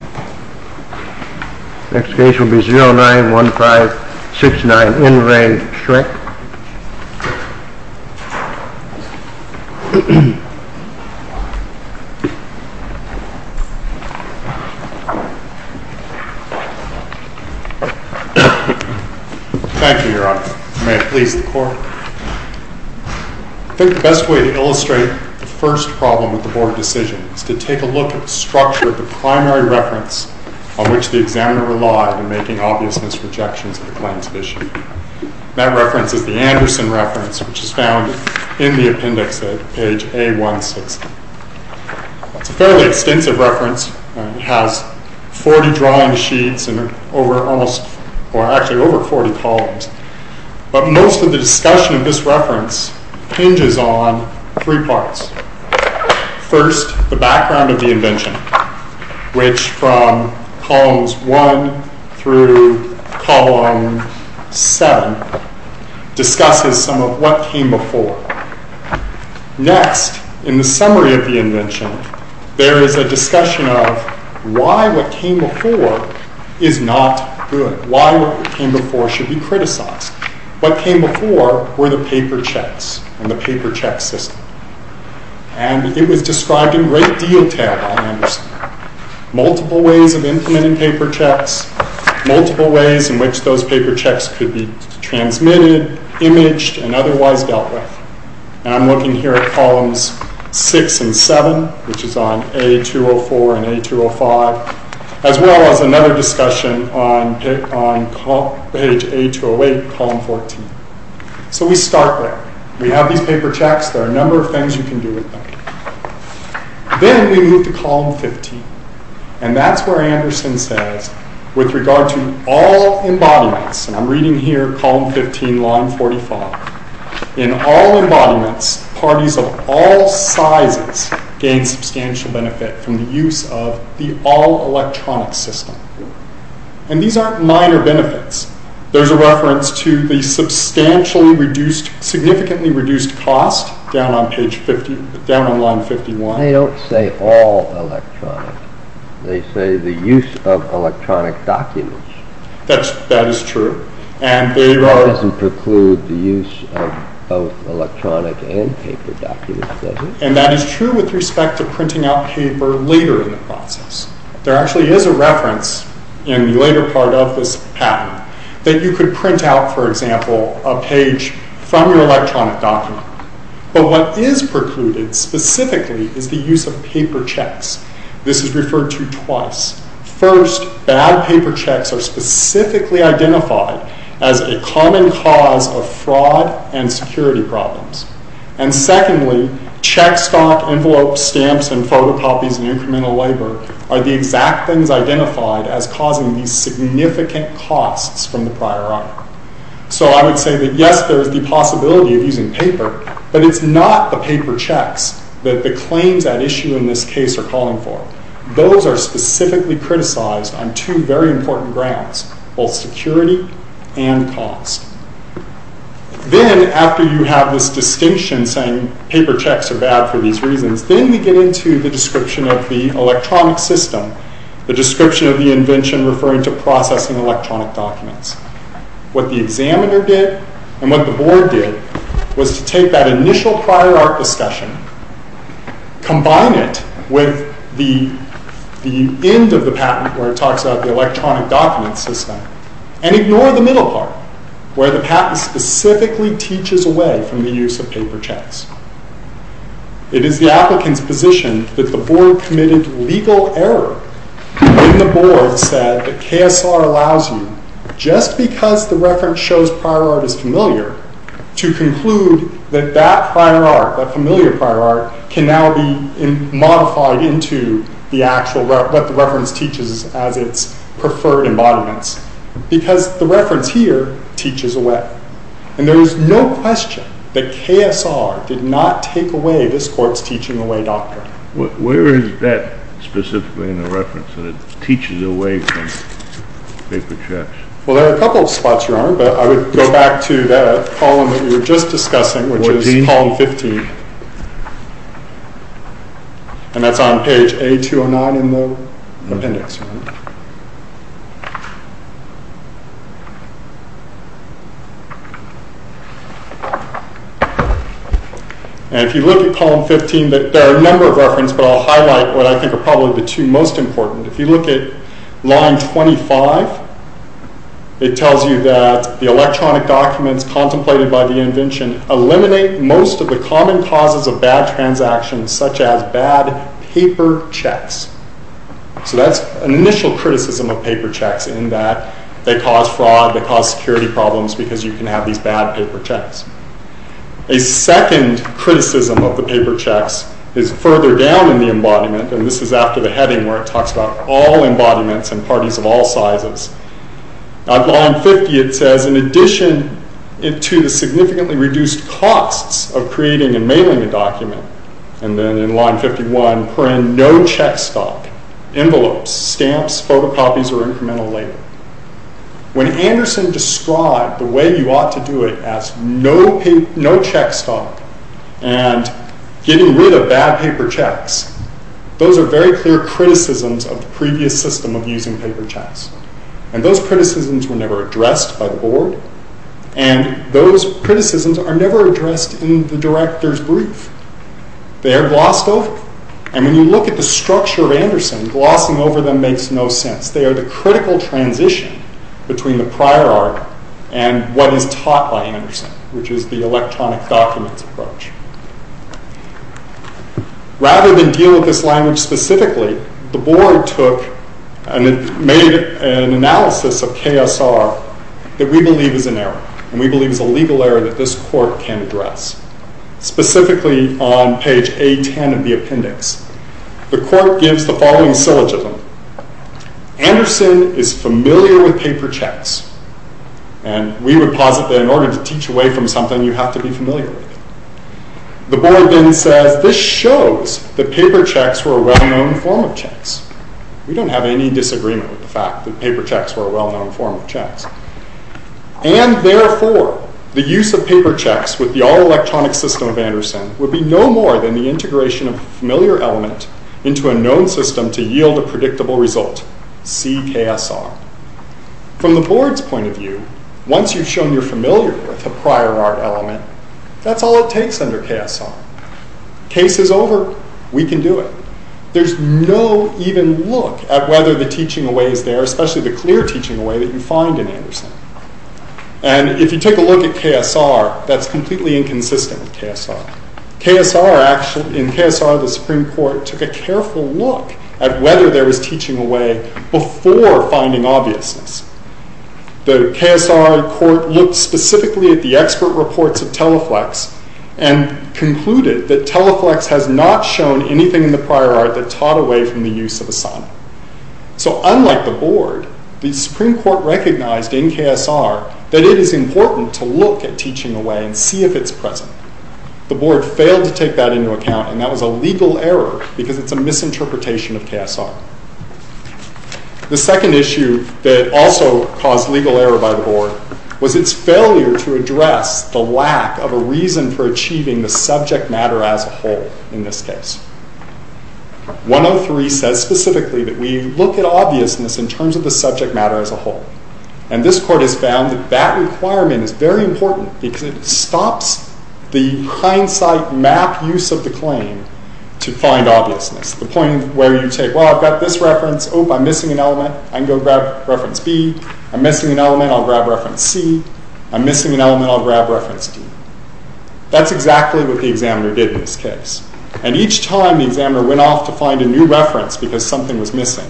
I think the best way to illustrate the first problem with the board decision is to take a look at the structure of the primary reference on which the examiner relied in making obvious misrejections of the claims of issue. That reference is the Anderson reference, which is found in the appendix at page A160. It's a fairly extensive reference. It has 40 drawing sheets and over almost or actually over 40 columns. But most of the discussion of this reference hinges on three parts. First, the background of the invention, which from columns 1 through column 7 discusses some of what came before. Next, in the summary of the invention, there is a discussion of why what came before is not good. Why what came before should be criticized. What came before were the paper checks and the paper check system. It was described in great detail by Anderson. Multiple ways of implementing paper checks, multiple ways in which those paper checks could be transmitted, imaged, and otherwise dealt with. I'm looking here at columns 6 and 7, which is on A204 and A205, as well as another discussion on page A208, column 14. So we start there. We have these paper checks. There are a number of things you can do with them. Then we move to column 15, and that's where Anderson says, with regard to all embodiments, and I'm reading here column 15, line 45, in all embodiments, parties of all sizes gain substantial benefit from the use of the all-electronic system. And these aren't minor benefits. There's a reference to the substantially reduced, significantly reduced cost down on line 51. They don't say all electronic. They say the use of electronic documents. That is true. And they doesn't preclude the use of both electronic and paper documents, does it? And that is true with respect to printing out paper later in the process. There actually is a reference in the later part of this pattern that you could print out, for example, a page from your electronic document. But what is precluded specifically is the use of paper checks. This is referred to twice. First, bad paper checks are specifically identified as a common cause of fraud and security problems. And secondly, check stock envelopes, stamps, and photocopies, and incremental labor are the exact things identified as causing these significant costs from the prior hour. So I would say that, yes, there is the reference that you're calling for. Those are specifically criticized on two very important grounds, both security and cost. Then, after you have this distinction saying paper checks are bad for these reasons, then we get into the description of the electronic system, the description of the invention referring to processing electronic documents. What the end of the patent where it talks about the electronic document system. And ignore the middle part, where the patent specifically teaches away from the use of paper checks. It is the applicant's position that the board committed legal error when the board said that KSR allows you, just because the reference shows prior art is familiar, to conclude that that is not true. The actual, what the reference teaches as its preferred embodiments. Because the reference here teaches away. And there is no question that KSR did not take away this court's teaching away doctrine. Where is that specifically in the reference that it teaches away from paper checks? Well, there are a couple of spots you're on, but I would go back to the column that we were just discussing, which is column 15. And that's on page A209 in the appendix. And if you look at column 15, there are a number of references, but I'll highlight what I think are probably the two most important. If you look at line 25, it tells you that the electronic documents contemplated by the invention eliminate most of the common causes of bad transactions, such as bad paper checks. So that's an initial criticism of paper checks in that they cause fraud, they cause security problems, because you can have these bad paper checks. A second criticism of the paper checks is further down in the embodiment, and this is after the heading where it talks about all embodiments and parties of all sizes. On line 50, it says, in addition to the significantly reduced costs of creating and mailing a document, and then in line 51, no check stock, envelopes, stamps, photocopies, or incremental labor. When Anderson described the way you ought to do it as no check stock and getting rid of bad paper checks, those are very clear criticisms of the previous system of using paper checks. And those criticisms were never addressed by the board, and those criticisms are never addressed in the director's brief. They are glossed over, and when you look at the structure of Anderson, glossing over them makes no sense. They are the critical transition between the prior art and what is taught by Anderson, which is the electronic documents approach. Rather than deal with this language specifically, the board made an analysis of KSR that we believe is an error, and we believe is a legal error that this court can address, specifically on page A10 of the appendix. The court gives the following syllogism. Anderson is familiar with paper checks, and we would posit that in order to teach away from something, you have to be familiar with it. The board then says, this shows that paper checks were a well-known form of checks. We don't have any disagreement with the fact that paper checks were a well-known form of checks. And therefore, the use of paper checks with the all-electronic system of Anderson would be no more than the integration of a familiar element into a known system to yield a predictable result, see KSR. From the board's point of view, once you've shown you're familiar with a prior art element, that's all it takes under KSR. Case is over, we can do it. There's no even look at whether the teaching away is there, especially the clear teaching away that you find in Anderson. And if you take a look at KSR, that's completely inconsistent with KSR. In KSR, the Supreme Court took a careful look at whether there was teaching away before finding obviousness. The KSR court looked specifically at the expert reports of Teleflex and concluded that Teleflex has not shown anything in the prior art that taught away from the use of Asana. So unlike the board, the Supreme Court recognized in KSR that it is important to look at teaching away and see if it's present. The board failed to take that into account and that was a legal error because it's a misinterpretation of KSR. The second issue that also caused legal error by the board was its failure to address the lack of a reason for achieving the subject matter as a whole in this case. 103 says specifically that we look at obviousness in terms of the subject matter as a whole. And this court has found that that requirement is very important because it stops the hindsight map use of the claim to find obviousness. The point where you take, well, I've got this reference. Oh, I'm missing an element. I can go grab reference B. I'm missing an element. I'll grab reference C. I'm missing an element. I'll grab reference D. That's exactly what the examiner did in this case. And each time the examiner went off to find a new reference because something was missing,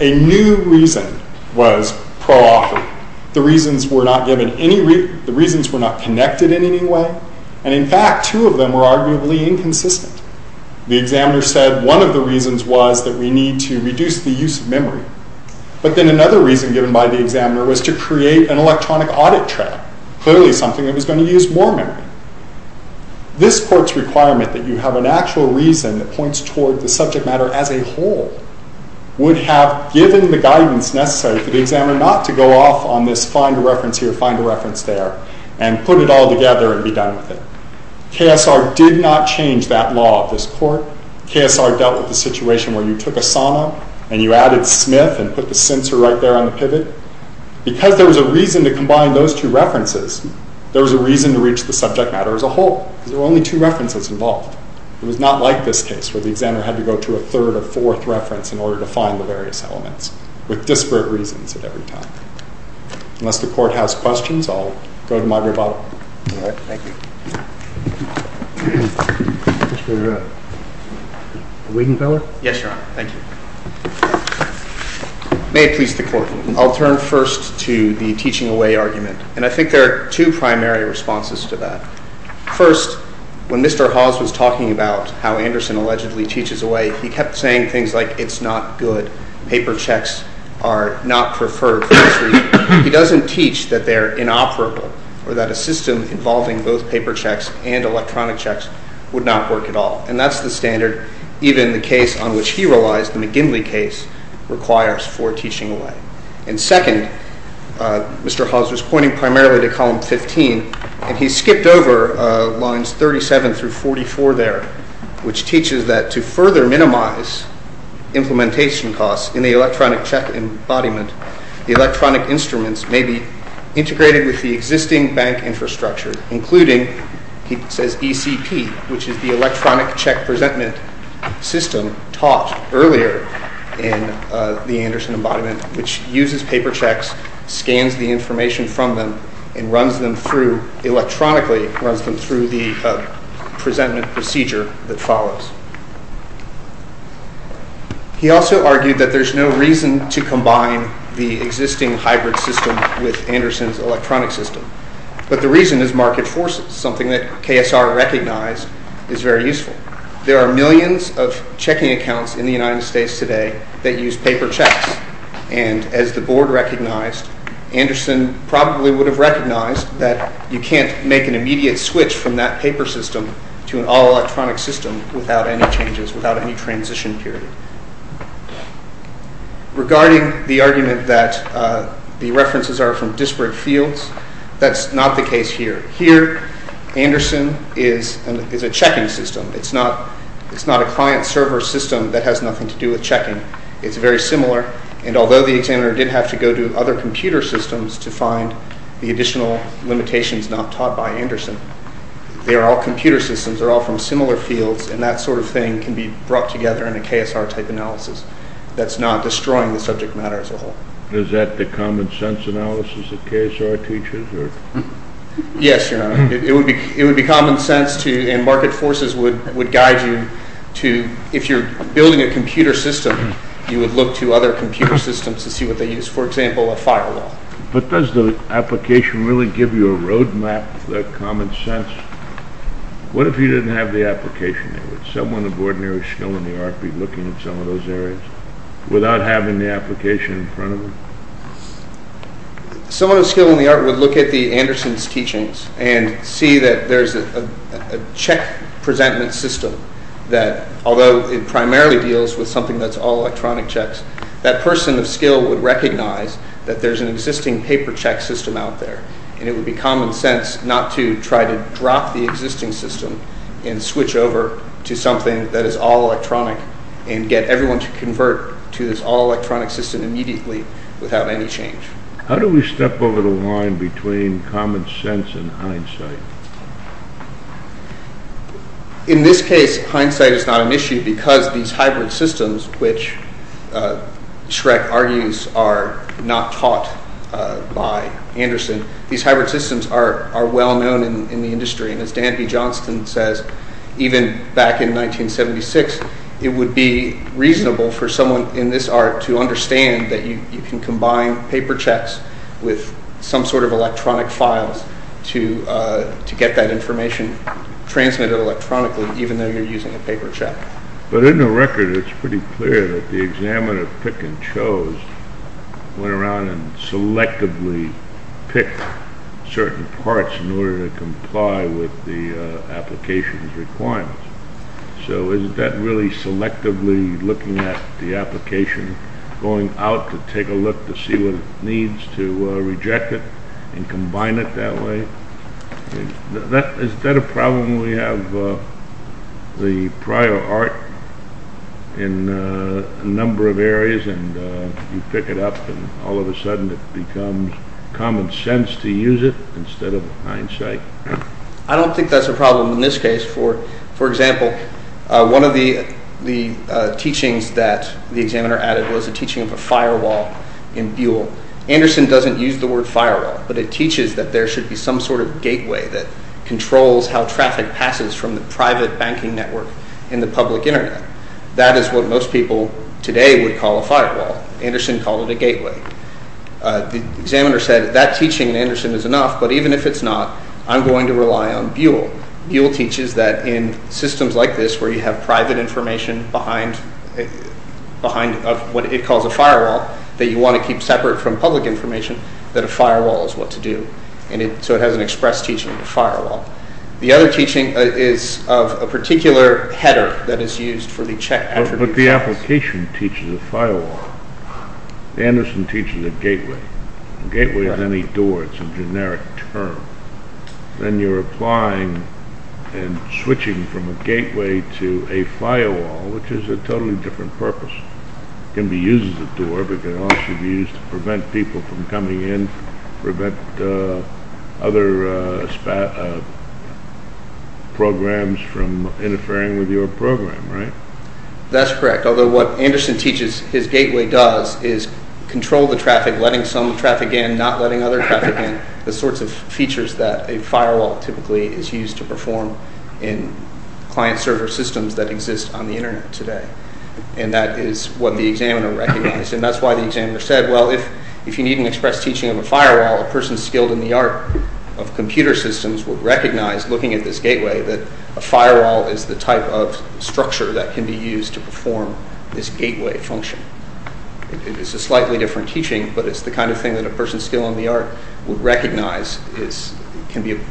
a new reason was pro offered. The reasons were not connected in any way. And, in fact, two of them were arguably inconsistent. The examiner said one of the reasons was that we need to reduce the use of memory. But then another reason given by the examiner was to create an electronic audit track, clearly something that was going to use more memory. This court's requirement that you have an actual reason that points toward the subject matter as a whole would have given the guidance necessary for the examiner not to go off on this find a reference here, find a reference there, and put it all together and be done with it. KSR did not change that law of this court. KSR dealt with the situation where you took Asana and you added Smith and put the censor right there on the pivot. Because there was a reason to combine those two references, there was a reason to reach the subject matter as a whole. There were only two references involved. It was not like this case where the examiner had to go to a third or fourth reference in order to find the various elements, with disparate reasons at every time. Unless the court has questions, I'll go to my rebuttal. Yes, Your Honor. Thank you. May it please the Court. I'll turn first to the teaching away argument. And I think there are two primary responses to that. First, when Mr. Hawes was talking about how Anderson allegedly teaches away, he kept saying things like it's not good, paper checks are not preferred for this reason. He doesn't teach that they're inoperable or that a system involving both paper checks and electronic checks would not work at all. And that's the standard even the case on which he relies, the McGinley case, requires for teaching away. And second, Mr. Hawes was pointing primarily to column 15, and he skipped over lines 37 through 44 there, which teaches that to further minimize implementation costs in the electronic check embodiment, the electronic instruments may be integrated with the existing bank infrastructure, including, he says, ECP, which is the electronic check presentment system taught earlier in the Anderson embodiment, which uses paper checks, scans the information from them, and runs them through electronically, runs them through the presentment procedure that follows. He also argued that there's no reason to combine the existing hybrid system with Anderson's electronic system. But the reason is market forces, something that KSR recognized is very useful. There are millions of checking accounts in the United States today that use paper checks. And as the board recognized, Anderson probably would have recognized that you can't make an immediate switch from that paper system to an all-electronic system without any changes, without any transition period. Regarding the argument that the references are from disparate fields, that's not the case here. Here, Anderson is a checking system. It's not a client-server system that has nothing to do with checking. It's very similar, and although the examiner did have to go to other computer systems to find the additional limitations not taught by Anderson, they are all computer systems, they're all from similar fields, and that sort of thing can be brought together in a KSR-type analysis that's not destroying the subject matter as a whole. Is that the common sense analysis that KSR teaches? Yes, Your Honor. It would be common sense to, and market forces would guide you to, if you're building a computer system, you would look to other computer systems to see what they use. For example, a firewall. But does the application really give you a road map of that common sense? What if you didn't have the application? Would someone of ordinary skill in the art be looking at some of those areas without having the application in front of them? Someone of skill in the art would look at the Anderson's teachings and see that there's a check-presentment system that, although it primarily deals with something that's all electronic checks, that person of skill would recognize that there's an existing paper-check system out there, and it would be common sense not to try to drop the existing system and switch over to something that is all electronic and get everyone to convert to this all-electronic system immediately without any change. How do we step over the line between common sense and hindsight? In this case, hindsight is not an issue because these hybrid systems, which Shrek argues are not taught by Anderson, these hybrid systems are well-known in the industry, and as Dan B. Johnston says, even back in 1976, it would be reasonable for someone in this art to understand that you can combine paper checks with some sort of electronic files to get that information transmitted electronically, even though you're using a paper check. But in the record, it's pretty clear that the examiner pick-and-chose went around and selectively picked certain parts in order to comply with the application's requirements. So is that really selectively looking at the application, going out to take a look to see what it needs, to reject it and combine it that way? Is that a problem when we have the prior art in a number of areas and you pick it up and all of a sudden it becomes common sense to use it instead of hindsight? I don't think that's a problem in this case. For example, one of the teachings that the examiner added was a teaching of a firewall in Buell. Anderson doesn't use the word firewall, but it teaches that there should be some sort of gateway that controls how traffic passes from the private banking network in the public internet. That is what most people today would call a firewall. Anderson called it a gateway. The examiner said that teaching in Anderson is enough, but even if it's not, I'm going to rely on Buell. Buell teaches that in systems like this where you have private information behind what it calls a firewall, that you want to keep separate from public information, that a firewall is what to do. So it has an express teaching of a firewall. The other teaching is of a particular header that is used for the check... But the application teaches a firewall. Anderson teaches a gateway. A gateway is any door. It's a generic term. Then you're applying and switching from a gateway to a firewall, which is a totally different purpose. It can be used as a door, but it can also be used to prevent people from coming in, prevent other programs from interfering with your program, right? That's correct. Although what Anderson teaches his gateway does is control the traffic, letting some traffic in, not letting other traffic in, the sorts of features that a firewall typically is used to perform in client-server systems that exist on the internet today. And that is what the examiner recognized. And that's why the examiner said, well, if you need an express teaching of a firewall, a person skilled in the art of computer systems would recognize, looking at this gateway, that a firewall is the type of structure that can be used to perform this gateway function. It's a slightly different teaching, but it's the kind of thing that a person skilled in the art would recognize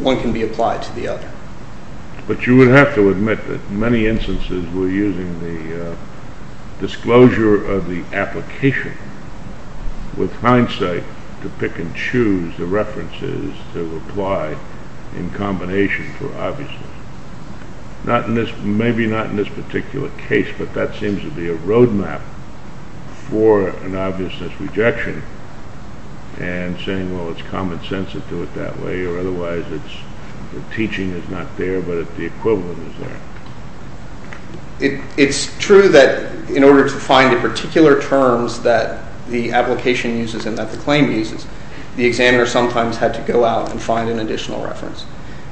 one can be applied to the other. But you would have to admit that many instances we're using the disclosure of the application with hindsight to pick and choose the references that were applied in combination for obviousness. Maybe not in this particular case, but that seems to be a roadmap for an obviousness rejection and saying, well, it's common sense to do it that way, or otherwise the teaching is not there, but the equivalent is there. It's true that in order to find the particular terms that the application uses and that the claim uses, the examiner sometimes had to go out and find an additional reference.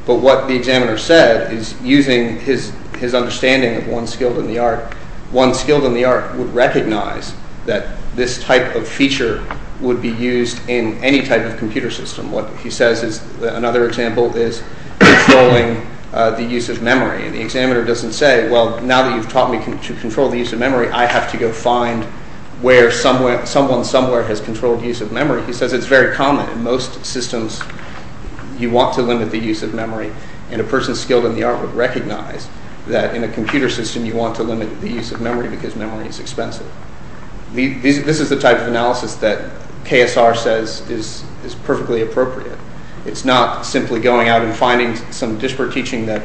But what the examiner said is, using his understanding of one skilled in the art, one skilled in the art would recognize that this type of feature would be used in any type of computer system. Another example is controlling the use of memory. The examiner doesn't say, well, now that you've taught me to control the use of memory, I have to go find where someone somewhere has controlled the use of memory. He says it's very common in most systems. You want to limit the use of memory, and a person skilled in the art would recognize that in a computer system you want to limit the use of memory because memory is expensive. This is the type of analysis that KSR says is perfectly appropriate. It's not simply going out and finding some disparate teaching that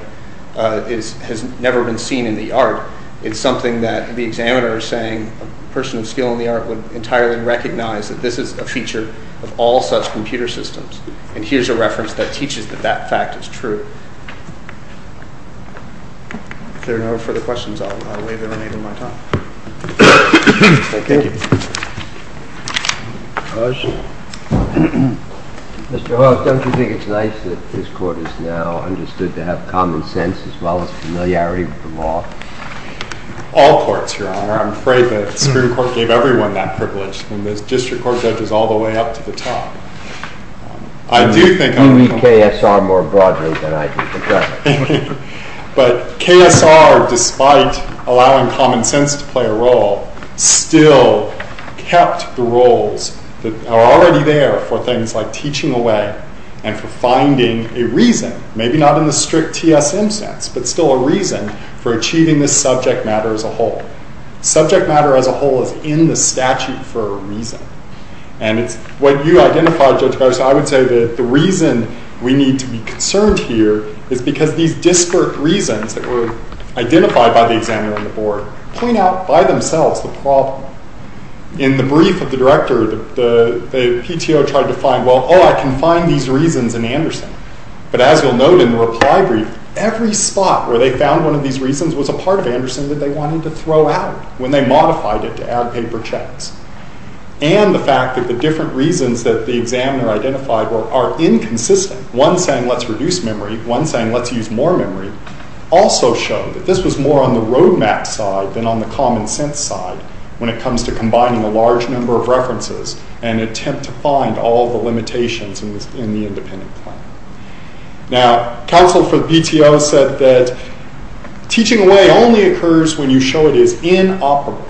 has never been seen in the art. It's something that the examiner is saying a person of skill in the art would entirely recognize that this is a feature of all such computer systems. And here's a reference that teaches that that fact is true. If there are no further questions, I'll waive everybody from my time. Thank you. Mr. Hawes, don't you think it's nice that this court is now understood to have common sense as well as familiarity with the law? All courts, Your Honor. I'm afraid that the Supreme Court gave everyone that privilege from the district court judges all the way up to the top. I do think I'm... You mean KSR more broadly than I do. But KSR, despite allowing common sense to play a role, still kept the roles that are already there for things like teaching away and for finding a reason, maybe not in the strict TSM sense, but still a reason for achieving this subject matter as a whole. Subject matter as a whole is in the statute for a reason. And it's what you identified, Judge Garza, I would say that the reason we need to be concerned here is because these disparate reasons that were identified by the examiner and the board point out by themselves the problem. In the brief of the director, the PTO tried to find, well, oh, I can find these reasons in Anderson. But as you'll note in the reply brief, every spot where they found one of these reasons was a part of Anderson that they wanted to throw out when they modified it to add paper checks. And the fact that the different reasons that the examiner identified are inconsistent, one saying let's reduce memory, one saying let's use more memory, also showed that this was more on the roadmap side than on the common sense side when it comes to combining a large number of references and attempt to find all the limitations in the independent plan. Now, counsel for the PTO said that teaching away only occurs when you show it is inoperable.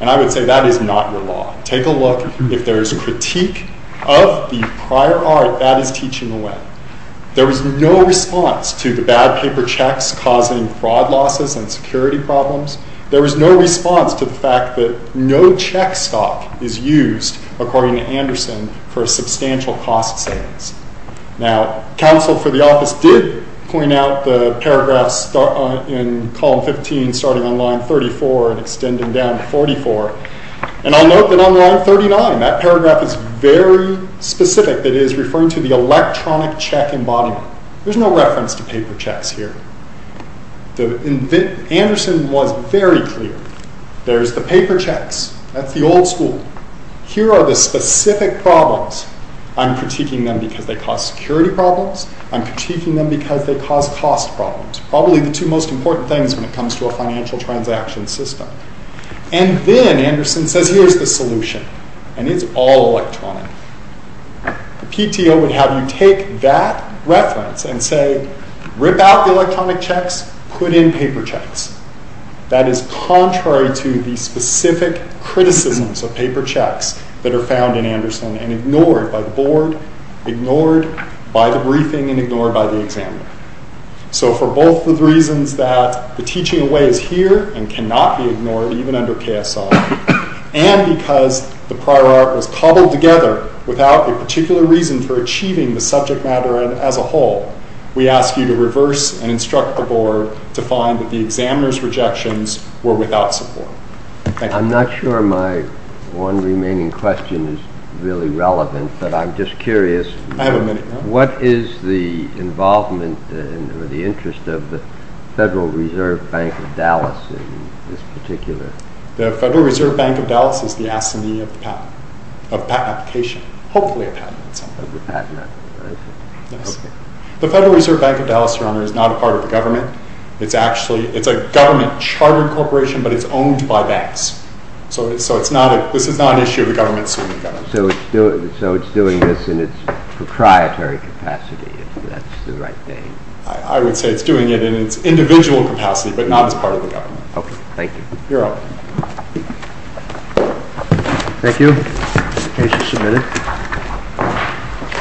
And I would say that is not your law. Take a look. If there is critique of the prior art, that is teaching away. There was no response to the bad paper checks causing fraud losses and security problems. There was no response to the fact that no check stock is used, according to Anderson, for substantial cost savings. Now, counsel for the office did point out the paragraphs in column 15 starting on line 34 and extending down to 44. And I'll note that on line 39, that paragraph is very specific. It is referring to the electronic check embodiment. There's no reference to paper checks here. Anderson was very clear. There's the paper checks. That's the old school. Here are the specific problems. I'm critiquing them because they cause security problems. I'm critiquing them because they cause cost problems. Probably the two most important things when it comes to a financial transaction system. And then, Anderson says, here's the solution. And it's all electronic. The PTO would have you take that reference and say, rip out the electronic checks, put in paper checks. That is contrary to the specific criticisms of paper checks that are found in Anderson and ignored by the board, ignored by the briefing, and ignored by the examiner. So, for both the reasons that the teaching away is here and cannot be ignored, even under KSI, and because the prior art was cobbled together without a particular reason for achieving the subject matter as a whole, we ask you to reverse and instruct the board to find that the examiner's rejections were without support. Thank you. I'm not sure my one remaining question is really relevant, but I'm just curious. I have a minute. What is the involvement or the interest of the Federal Reserve Bank of Dallas in this particular... The Federal Reserve Bank of Dallas is the assignee of the patent, of patent application, hopefully a patent in some way. The Federal Reserve Bank of Dallas, Your Honor, is not a part of the government. It's a government chartered corporation, but it's owned by banks. So, this is not an issue of the government suing the government. So, it's doing this in its proprietary capacity, if that's the right name. I would say it's doing it in its individual capacity, but not as part of the government. Okay. Thank you. You're welcome. Thank you. Case is submitted.